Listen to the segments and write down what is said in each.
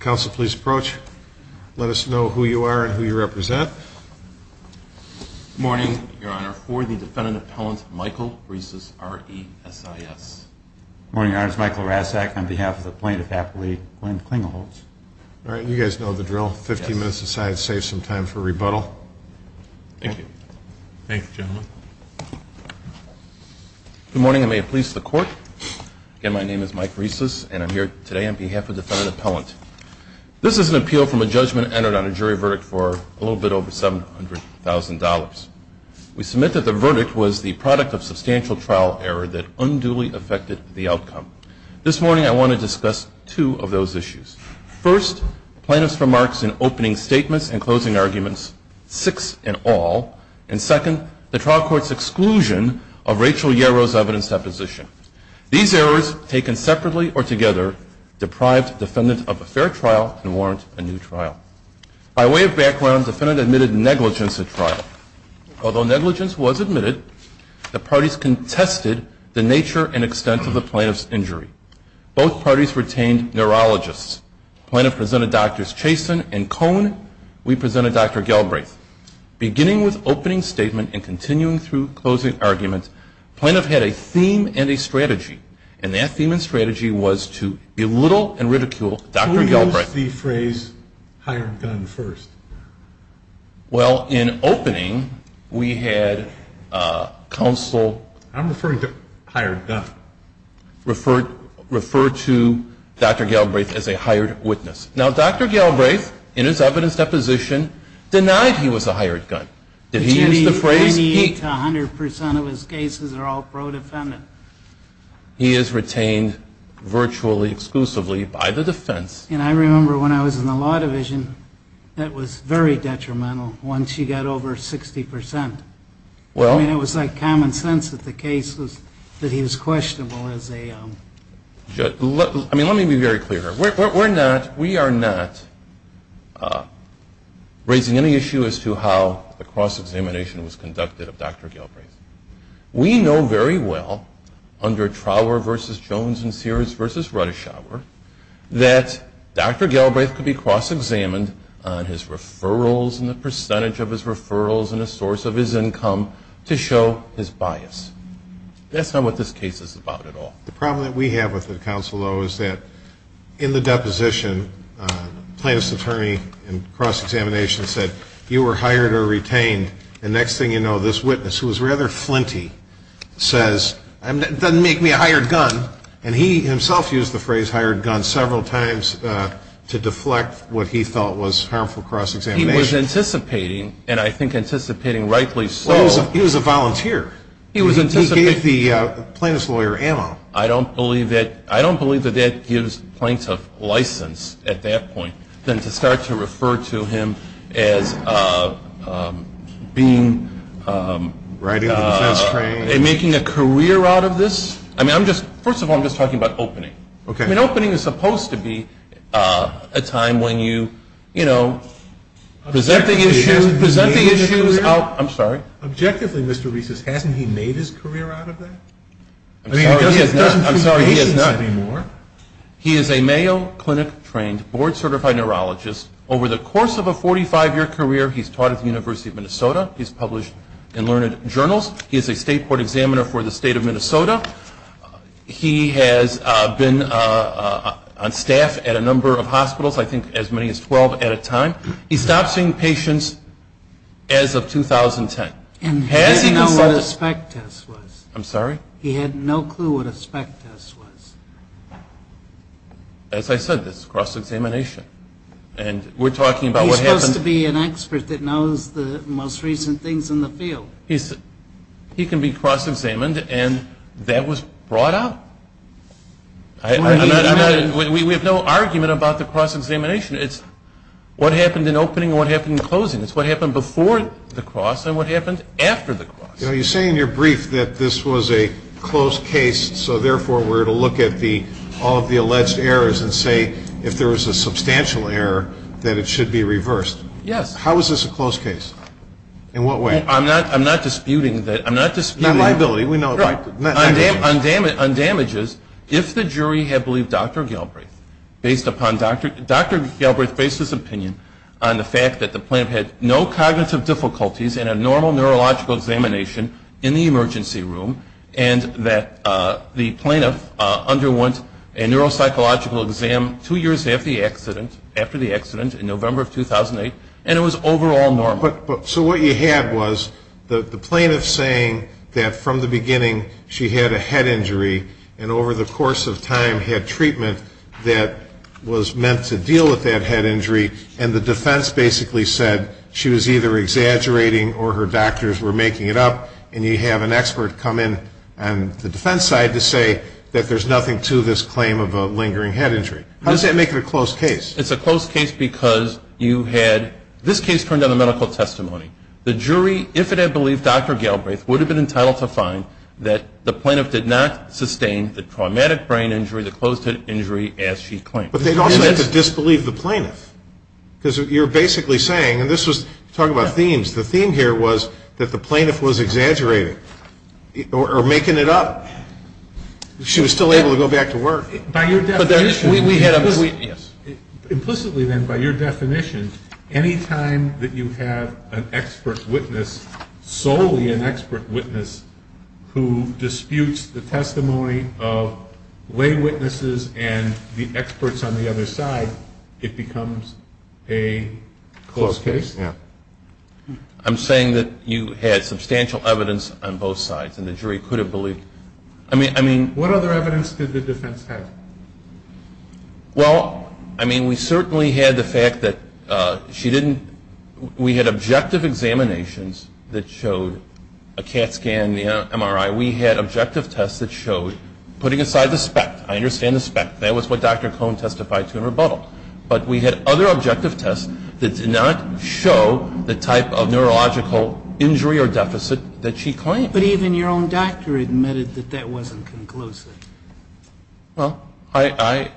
Council, please approach. Let us know who you are and who you represent. Good morning, Your Honor. For the Defendant Appellant, Michael Reeses, R-E-S-I-S. Good morning, Your Honor. It's Michael Rasek on behalf of the plaintiff, Appellee Glenn Klingelhoets. All right. You guys know the drill. Fifteen minutes aside, save some time for rebuttal. Thank you. Thank you, gentlemen. Good morning, and may it please the Court. Again, my name is Mike Reeses, and I'm here today on behalf of the Defendant Appellant. This is an appeal from a judgment entered on a jury verdict for a little bit over $700,000. We submit that the verdict was the product of substantial trial error that unduly affected the outcome. This morning, I want to discuss two of those issues. First, plaintiff's remarks in opening statements and closing arguments, six in all. And second, the trial court's exclusion of Rachel Yarrow's evidence deposition. These errors, taken separately or together, deprived defendant of a fair trial and warrant a new trial. By way of background, defendant admitted negligence at trial. Although negligence was admitted, the parties contested the nature and extent of the plaintiff's injury. Both parties retained neurologists. Plaintiff presented Drs. Chaston and Cohn. We presented Dr. Galbraith. Beginning with opening statement and continuing through closing argument, plaintiff had a theme and a strategy. And that theme and strategy was to belittle and ridicule Dr. Galbraith. Can we use the phrase hired gun first? Well, in opening, we had counsel. I'm referring to hired gun. Refer to Dr. Galbraith as a hired witness. Now, Dr. Galbraith, in his evidence deposition, denied he was a hired gun. Did he use the phrase? 98 to 100% of his cases are all pro-defendant. He is retained virtually exclusively by the defense. And I remember when I was in the law division, that was very detrimental once you got over 60%. Well. I mean, it was like common sense that the case was that he was questionable as a judge. I mean, let me be very clear here. We're not, we are not raising any issue as to how the cross-examination was conducted of Dr. Galbraith. We know very well, under Trower v. Jones and Sears v. Rudishour, that Dr. Galbraith could be cross-examined on his referrals and the percentage of his referrals and the source of his income to show his bias. That's not what this case is about at all. The problem that we have with it, counsel, though, is that in the deposition, plaintiff's attorney in cross-examination said, you were hired or retained. The next thing you know, this witness, who was rather flinty, says, it doesn't make me a hired gun. And he himself used the phrase hired gun several times to deflect what he felt was harmful cross-examination. He was anticipating, and I think anticipating rightly so. He was a volunteer. He was anticipating. He gave the plaintiff's lawyer ammo. I don't believe that that gives plaintiff license at that point than to start to refer to him as being and making a career out of this. I mean, first of all, I'm just talking about opening. I mean, opening is supposed to be a time when you, you know, present the issues out. Objectively, Mr. Reeses, hasn't he made his career out of that? I mean, he doesn't treat patients anymore. He is a Mayo Clinic-trained, board-certified neurologist. Over the course of a 45-year career, he's taught at the University of Minnesota. He's published in learned journals. He is a state court examiner for the state of Minnesota. He has been on staff at a number of hospitals, I think as many as 12 at a time. He stopped seeing patients as of 2010. And he didn't know what a spec test was. I'm sorry? He had no clue what a spec test was. As I said, this is cross-examination. And we're talking about what happens- He's supposed to be an expert that knows the most recent things in the field. He can be cross-examined, and that was brought up? We have no argument about the cross-examination. It's what happened in opening and what happened in closing. It's what happened before the cross and what happened after the cross. You say in your brief that this was a close case, so therefore we're to look at all of the alleged errors and say if there was a substantial error that it should be reversed. Yes. How is this a close case? In what way? I'm not disputing that. Not liability. On damages, if the jury had believed Dr. Galbraith based upon Dr. Galbraith's opinion on the fact that the plaintiff had no cognitive difficulties in a normal neurological examination in the emergency room and that the plaintiff underwent a neuropsychological exam two years after the accident, in November of 2008, and it was overall normal. So what you had was the plaintiff saying that from the beginning she had a head injury and over the course of time had treatment that was meant to deal with that head injury and the defense basically said she was either exaggerating or her doctors were making it up and you have an expert come in on the defense side to say that there's nothing to this claim of a lingering head injury. How does that make it a close case? It's a close case because you had this case turned on a medical testimony. The jury, if it had believed Dr. Galbraith, would have been entitled to a fine that the plaintiff did not sustain the traumatic brain injury, the closed head injury as she claimed. But they'd also have to disbelieve the plaintiff because you're basically saying, and this was talking about themes, the theme here was that the plaintiff was exaggerating or making it up. She was still able to go back to work. By your definition, implicitly then by your definition, any time that you have an expert witness, solely an expert witness, who disputes the testimony of lay witnesses and the experts on the other side, it becomes a close case. I'm saying that you had substantial evidence on both sides and the jury could have believed. What other evidence did the defense have? Well, I mean, we certainly had the fact that she didn't, we had objective examinations that showed a CAT scan, the MRI. We had objective tests that showed, putting aside the spec, I understand the spec, that was what Dr. Cohn testified to in rebuttal. But we had other objective tests that did not show the type of neurological injury or deficit that she claimed. But even your own doctor admitted that that wasn't conclusive. Well, I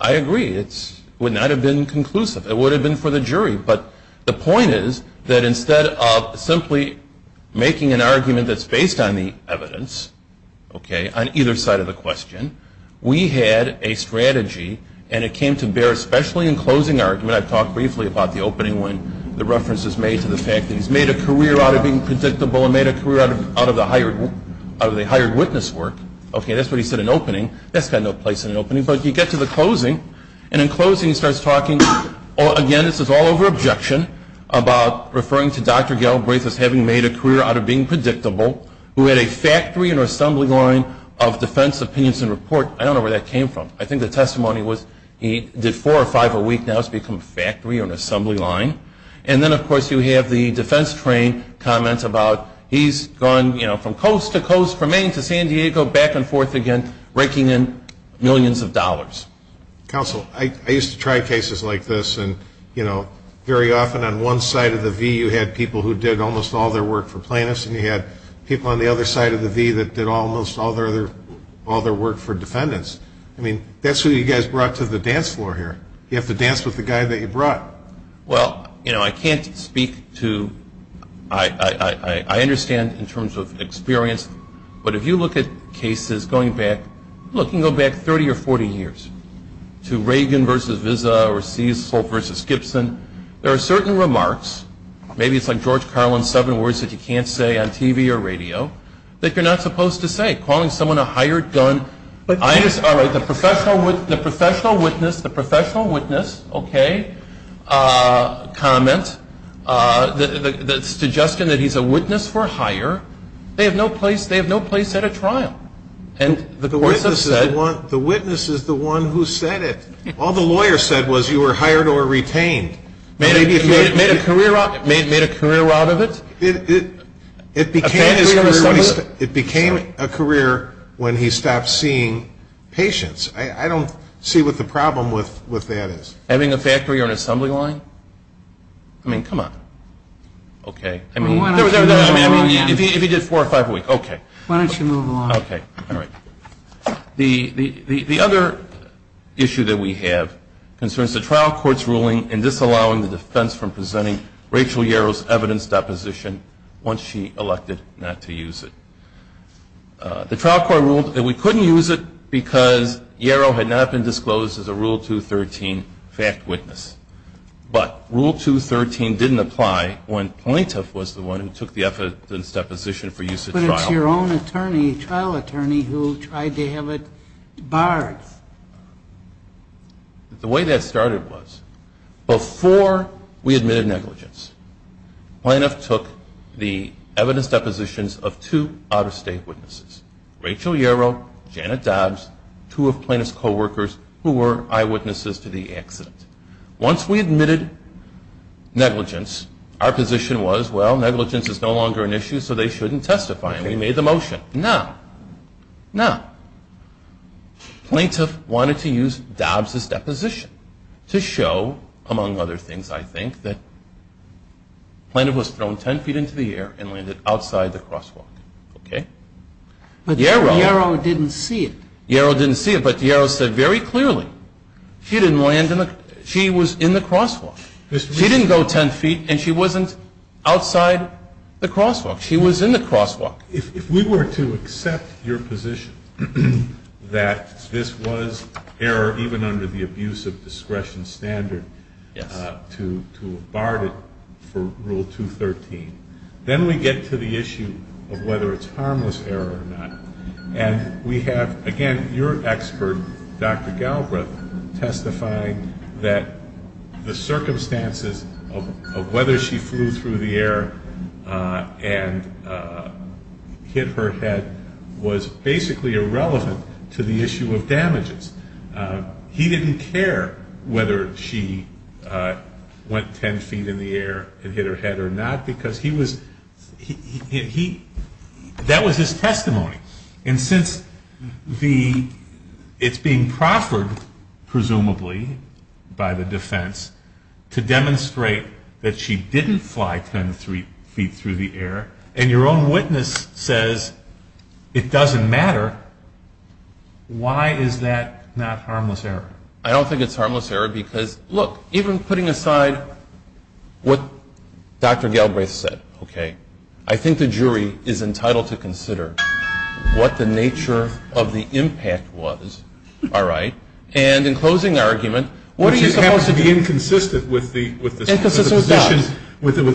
agree. It would not have been conclusive. It would have been for the jury. But the point is that instead of simply making an argument that's based on the evidence, okay, on either side of the question, we had a strategy, and it came to bear especially in closing argument. I've talked briefly about the opening when the reference is made to the fact that he's made a career out of being predictable and made a career out of the hired witness work. Okay, that's what he said in opening. That's got no place in an opening. But you get to the closing, and in closing he starts talking, again, this is all over objection, about referring to Dr. Galbraith as having made a career out of being predictable, who had a factory in her assembly line of defense opinions and report. I don't know where that came from. I think the testimony was he did four or five a week, now it's become a factory or an assembly line. And then, of course, you have the defense train comments about he's gone from coast to coast, from Maine to San Diego, back and forth again, raking in millions of dollars. Counsel, I used to try cases like this, and, you know, very often on one side of the V you had people who did almost all their work for plaintiffs, and you had people on the other side of the V that did almost all their work for defendants. I mean, that's who you guys brought to the dance floor here. You have to dance with the guy that you brought. Well, you know, I can't speak to – I understand in terms of experience, but if you look at cases going back – look, you can go back 30 or 40 years, to Reagan v. Vizza or Cecil v. Gibson, there are certain remarks, maybe it's like George Carlin's seven words that you can't say on TV or radio, that you're not supposed to say. Calling someone a hired gun – all right, the professional witness, the professional witness, okay, comment, the suggestion that he's a witness for hire, they have no place at a trial. The witness is the one who said it. All the lawyer said was you were hired or retained. Made a career out of it? It became a career when he stopped seeing patients. I don't see what the problem with that is. Having a factory or an assembly line? I mean, come on. Okay, I mean, if he did four or five a week, okay. Why don't you move along? Okay, all right. The other issue that we have concerns the trial court's ruling in disallowing the defense from presenting Rachel Yarrow's evidence deposition once she elected not to use it. The trial court ruled that we couldn't use it because Yarrow had not been disclosed as a Rule 213 fact witness. But Rule 213 didn't apply when Plaintiff was the one who took the evidence deposition for use at trial. But it's your own attorney, trial attorney, who tried to have it barred. The way that started was before we admitted negligence, Plaintiff took the evidence depositions of two out-of-state witnesses, Rachel Yarrow, Janet Dobbs, two of Plaintiff's coworkers, who were eyewitnesses to the accident. Once we admitted negligence, our position was, well, negligence is no longer an issue, so they shouldn't testify. And we made the motion. Now, now, Plaintiff wanted to use Dobbs's deposition to show, among other things, I think, that Plaintiff was thrown 10 feet into the air and landed outside the crosswalk. Okay? But Yarrow didn't see it. Yarrow didn't see it. But Yarrow said very clearly she was in the crosswalk. She didn't go 10 feet, and she wasn't outside the crosswalk. She was in the crosswalk. If we were to accept your position that this was error, even under the abuse of discretion standard, to have barred it for Rule 213, then we get to the issue of whether it's harmless error or not. And we have, again, your expert, Dr. Galbraith, testifying that the circumstances of whether she flew through the air and hit her head was basically irrelevant to the issue of damages. He didn't care whether she went 10 feet in the air and hit her head or not, because that was his testimony. And since it's being proffered, presumably, by the defense, to demonstrate that she didn't fly 10 feet through the air, and your own witness says it doesn't matter, why is that not harmless error? I don't think it's harmless error because, look, even putting aside what Dr. Galbraith said, okay, I think the jury is entitled to consider what the nature of the impact was. All right? And in closing argument, what are you supposed to do? But you happen to be inconsistent with the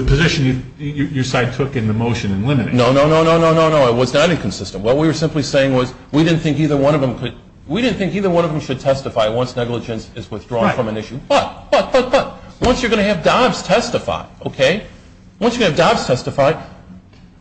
position your side took in the motion in limiting. No, no, no, no, no, no. It was not inconsistent. What we were simply saying was we didn't think either one of them could ‑‑ we didn't think either one of them should testify once negligence is withdrawn from an issue. Right. But, but, but, but, once you're going to have Dobbs testify, okay, once you have Dobbs testify,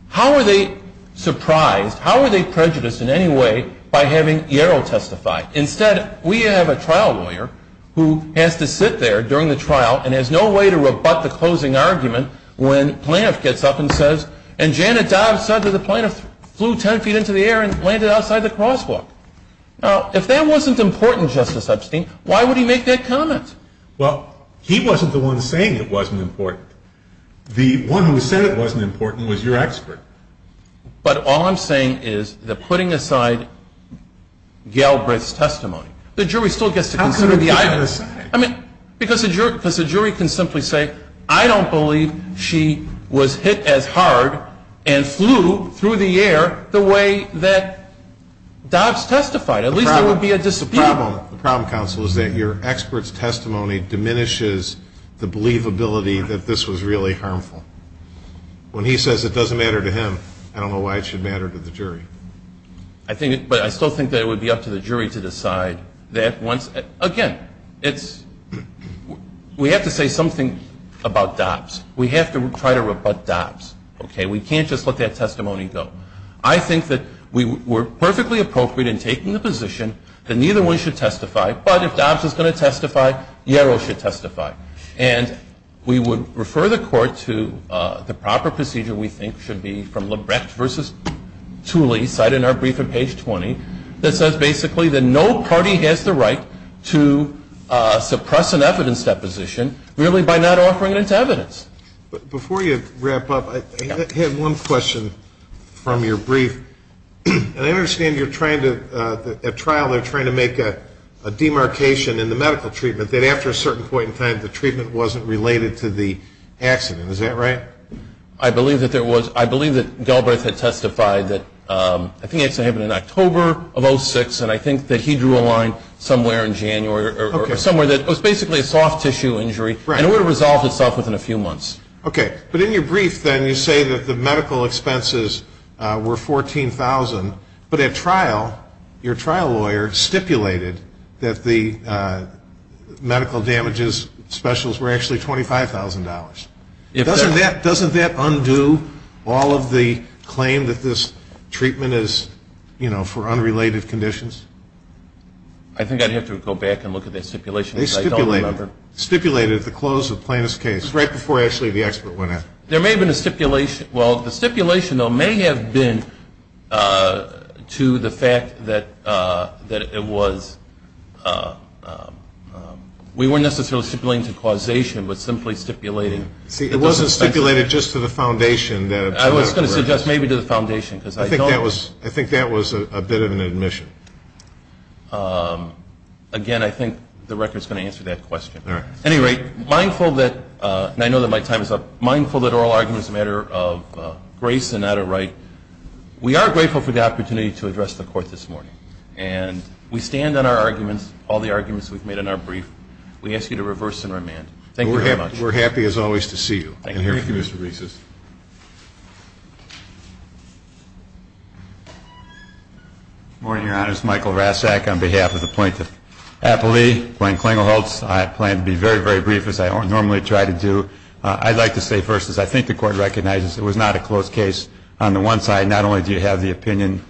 how are they surprised, how are they prejudiced in any way by having Yarrow testify? Instead, we have a trial lawyer who has to sit there during the trial and has no way to rebut the closing argument when plaintiff gets up and says, and Janet Dobbs said that the plaintiff flew 10 feet into the air and landed outside the crosswalk. Now, if that wasn't important, Justice Epstein, why would he make that comment? Well, he wasn't the one saying it wasn't important. The one who said it wasn't important was your expert. But all I'm saying is they're putting aside Galbraith's testimony. The jury still gets to consider the items. How can they put it aside? I mean, because the jury can simply say, I don't believe she was hit as hard and flew through the air the way that Dobbs testified. At least there would be a dispute. The problem, counsel, is that your expert's testimony diminishes the believability that this was really harmful. When he says it doesn't matter to him, I don't know why it should matter to the jury. But I still think that it would be up to the jury to decide. Again, we have to say something about Dobbs. We have to try to rebut Dobbs. We can't just let that testimony go. I think that we're perfectly appropriate in taking the position that neither one should testify, but if Dobbs is going to testify, Yarrow should testify. And we would refer the court to the proper procedure we think should be from Lebrecht v. Tooley, cited in our brief on page 20, that says basically that no party has the right to suppress an evidence deposition really by not offering its evidence. Before you wrap up, I have one question from your brief. And I understand you're trying to at trial, they're trying to make a demarcation in the medical treatment, that after a certain point in time the treatment wasn't related to the accident. Is that right? I believe that there was. I believe that Galbraith had testified that, I think it happened in October of 06, and I think that he drew a line somewhere in January, or somewhere that it was basically a soft tissue injury, and it would have resolved itself within a few months. Okay. But in your brief, then, you say that the medical expenses were $14,000. But at trial, your trial lawyer stipulated that the medical damages specials were actually $25,000. Doesn't that undo all of the claim that this treatment is, you know, for unrelated conditions? I think I'd have to go back and look at that stipulation because I don't remember. They stipulated it at the close of Plaintiff's case, right before actually the expert went in. There may have been a stipulation. Well, the stipulation, though, may have been to the fact that it was, we weren't necessarily stipulating to causation, but simply stipulating. See, it wasn't stipulated just to the foundation. I was going to suggest maybe to the foundation because I don't. I think that was a bit of an admission. Again, I think the record is going to answer that question. All right. At any rate, mindful that, and I know that my time is up, mindful that oral argument is a matter of grace and not a right. We are grateful for the opportunity to address the Court this morning. And we stand on our arguments, all the arguments we've made in our brief. We ask you to reverse and remand. Thank you very much. We're happy, as always, to see you. Thank you, Mr. Reeses. Thank you. Good morning, Your Honors. Michael Rasak on behalf of the Plaintiff. Appellee, Glenn Klingelholtz. I plan to be very, very brief, as I normally try to do. I'd like to say first, as I think the Court recognizes, it was not a close case. On the one side, not only do you have the opinion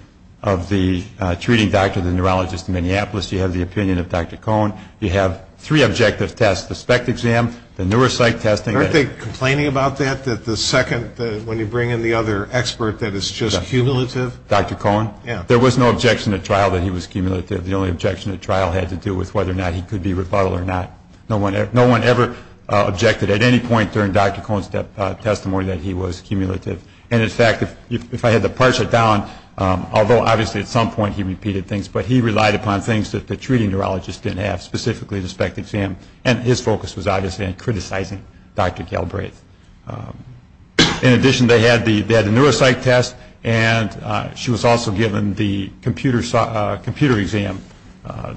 of the treating doctor, the neurologist in Minneapolis, you have the opinion of Dr. Cohen. You have three objective tests, the SPECT exam, the neuropsych testing. Aren't they complaining about that, that the second, when you bring in the other expert, that it's just cumulative? Dr. Cohen? Yeah. There was no objection at trial that he was cumulative. The only objection at trial had to do with whether or not he could be rebuttal or not. No one ever objected at any point during Dr. Cohen's testimony that he was cumulative. And, in fact, if I had to parse it down, although obviously at some point he repeated things, but he relied upon things that the treating neurologist didn't have, specifically the SPECT exam, and his focus was obviously on criticizing Dr. Galbraith. In addition, they had the neuropsych test, and she was also given the computer exam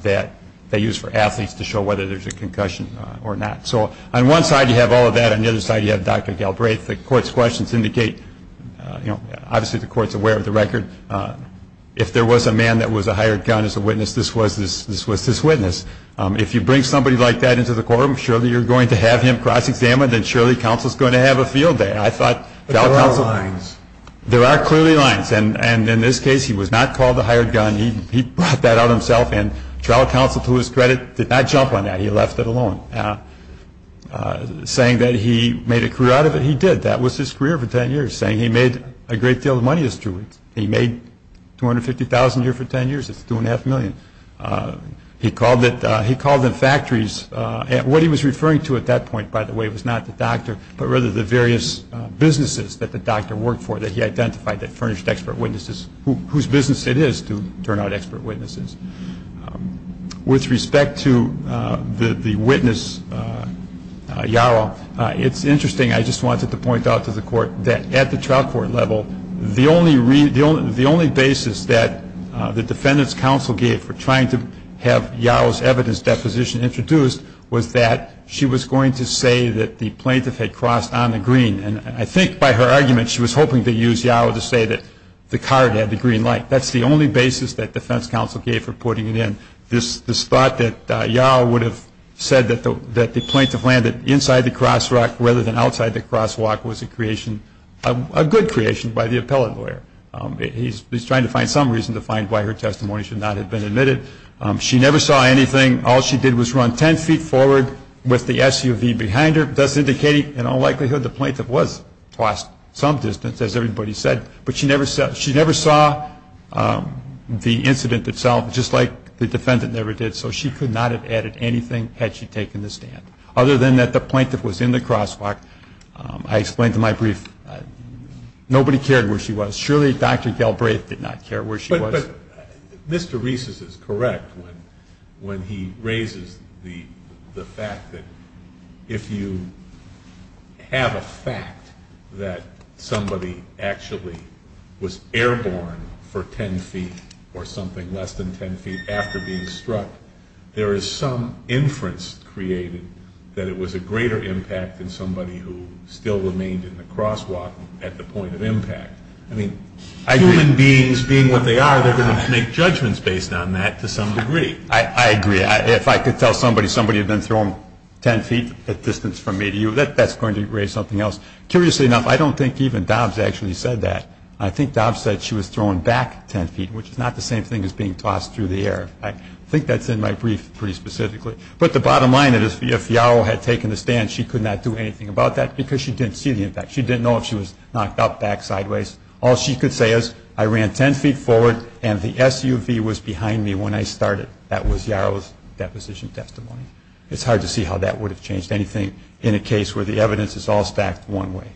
that they use for athletes to show whether there's a concussion or not. So on one side you have all of that. On the other side you have Dr. Galbraith. The court's questions indicate, you know, obviously the court's aware of the record. If there was a man that was a hired gun as a witness, this was his witness. If you bring somebody like that into the courtroom, surely you're going to have him cross-examined, and surely counsel's going to have a field day. But there are lines. There are clearly lines, and in this case he was not called a hired gun. He brought that out himself, and trial counsel, to his credit, did not jump on that. He left it alone. Saying that he made a career out of it, he did. That was his career for 10 years. Saying he made a great deal of money is true. He made $250,000 a year for 10 years. That's $2.5 million. He called them factories. What he was referring to at that point, by the way, was not the doctor, but rather the various businesses that the doctor worked for, that he identified that furnished expert witnesses, whose business it is to turn out expert witnesses. With respect to the witness, Yarrow, it's interesting. I just wanted to point out to the court that at the trial court level, the only basis that the defendant's counsel gave for trying to have Yarrow's evidence deposition introduced was that she was going to say that the plaintiff had crossed on the green. And I think by her argument, she was hoping to use Yarrow to say that the card had the green light. That's the only basis that defense counsel gave for putting it in. This thought that Yarrow would have said that the plaintiff landed inside the crosswalk rather than outside the crosswalk was a good creation by the appellate lawyer. He's trying to find some reason to find why her testimony should not have been admitted. She never saw anything. All she did was run ten feet forward with the SUV behind her. That's indicating in all likelihood the plaintiff was crossed some distance, as everybody said. But she never saw the incident itself, just like the defendant never did. So she could not have added anything had she taken the stand. Other than that the plaintiff was in the crosswalk. I explained to my brief, nobody cared where she was. Surely Dr. Galbraith did not care where she was. But Mr. Rees is correct when he raises the fact that if you have a fact that somebody actually was airborne for ten feet or something less than ten feet after being struck, there is some inference created that it was a greater impact than somebody who still remained in the crosswalk at the point of impact. I mean, human beings being what they are, they're going to make judgments based on that to some degree. I agree. If I could tell somebody somebody had been thrown ten feet at distance from me to you, that's going to raise something else. Curiously enough, I don't think even Dobbs actually said that. I think Dobbs said she was thrown back ten feet, which is not the same thing as being tossed through the air. I think that's in my brief pretty specifically. But the bottom line is if Yarrow had taken the stand, she could not do anything about that because she didn't see the impact. She didn't know if she was knocked up, back, sideways. All she could say is I ran ten feet forward and the SUV was behind me when I started. That was Yarrow's deposition testimony. It's hard to see how that would have changed anything in a case where the evidence is all stacked one way.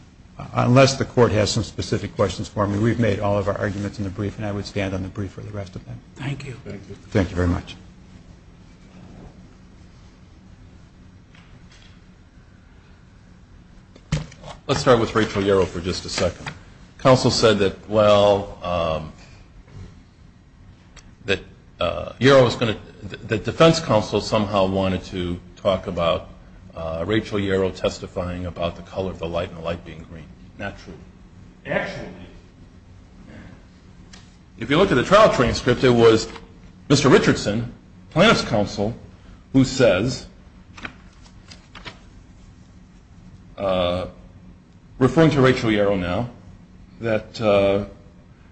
Unless the Court has some specific questions for me, we've made all of our arguments in the brief and I would stand on the brief for the rest of them. Thank you. Thank you very much. Let's start with Rachel Yarrow for just a second. The defense counsel somehow wanted to talk about Rachel Yarrow testifying about the color of the light and the light being green. Not true. Actually, if you look at the trial transcript, it was Mr. Richardson, plaintiff's counsel, who says, referring to Rachel Yarrow now, that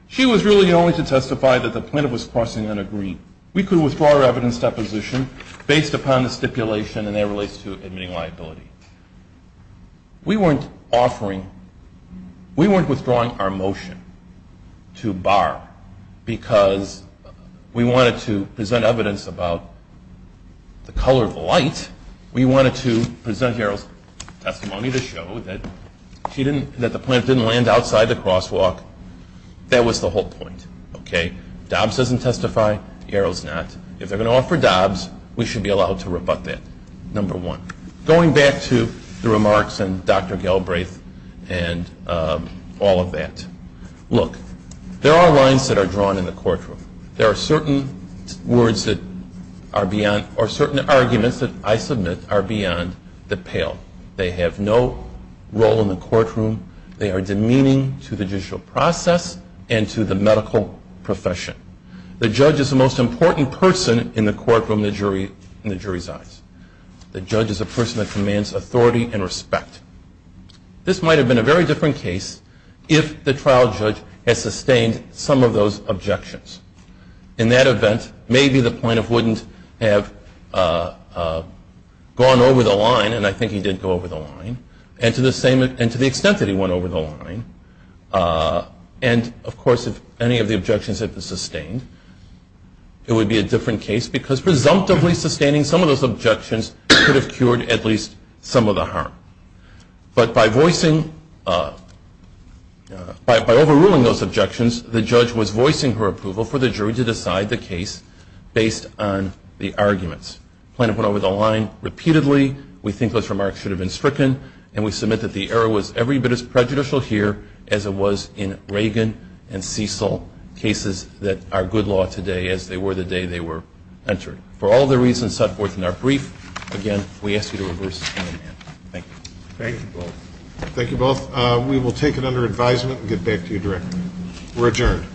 she was really only to testify that the plaintiff was crossing on a green. We could withdraw our evidence deposition based upon the stipulation, and that relates to admitting liability. We weren't withdrawing our motion to Barr because we wanted to present evidence about the color of the light. We wanted to present Yarrow's testimony to show that the plaintiff didn't land outside the crosswalk. That was the whole point. Dobbs doesn't testify. Yarrow's not. If they're going to offer Dobbs, we should be allowed to rebut that, number one. Going back to the remarks and Dr. Galbraith and all of that, look, there are lines that are drawn in the courtroom. There are certain arguments that I submit are beyond the pale. They have no role in the courtroom. They are demeaning to the judicial process and to the medical profession. The judge is the most important person in the courtroom in the jury's eyes. The judge is a person that commands authority and respect. This might have been a very different case if the trial judge had sustained some of those objections. In that event, maybe the plaintiff wouldn't have gone over the line, and I think he did go over the line, and to the extent that he went over the line. And, of course, if any of the objections had been sustained, it would be a different case because presumptively sustaining some of those objections could have cured at least some of the harm. But by voicing, by overruling those objections, the judge was voicing her approval for the jury to decide the case based on the arguments. The plaintiff went over the line repeatedly. We think those remarks should have been stricken, and we submit that the error was every bit as prejudicial here as it was in Reagan and Cecil, cases that are good law today as they were the day they were entered. For all the reasons set forth in our brief, again, we ask you to reverse and amend. Thank you. Thank you both. Thank you both. We will take it under advisement and get back to you directly. We're adjourned.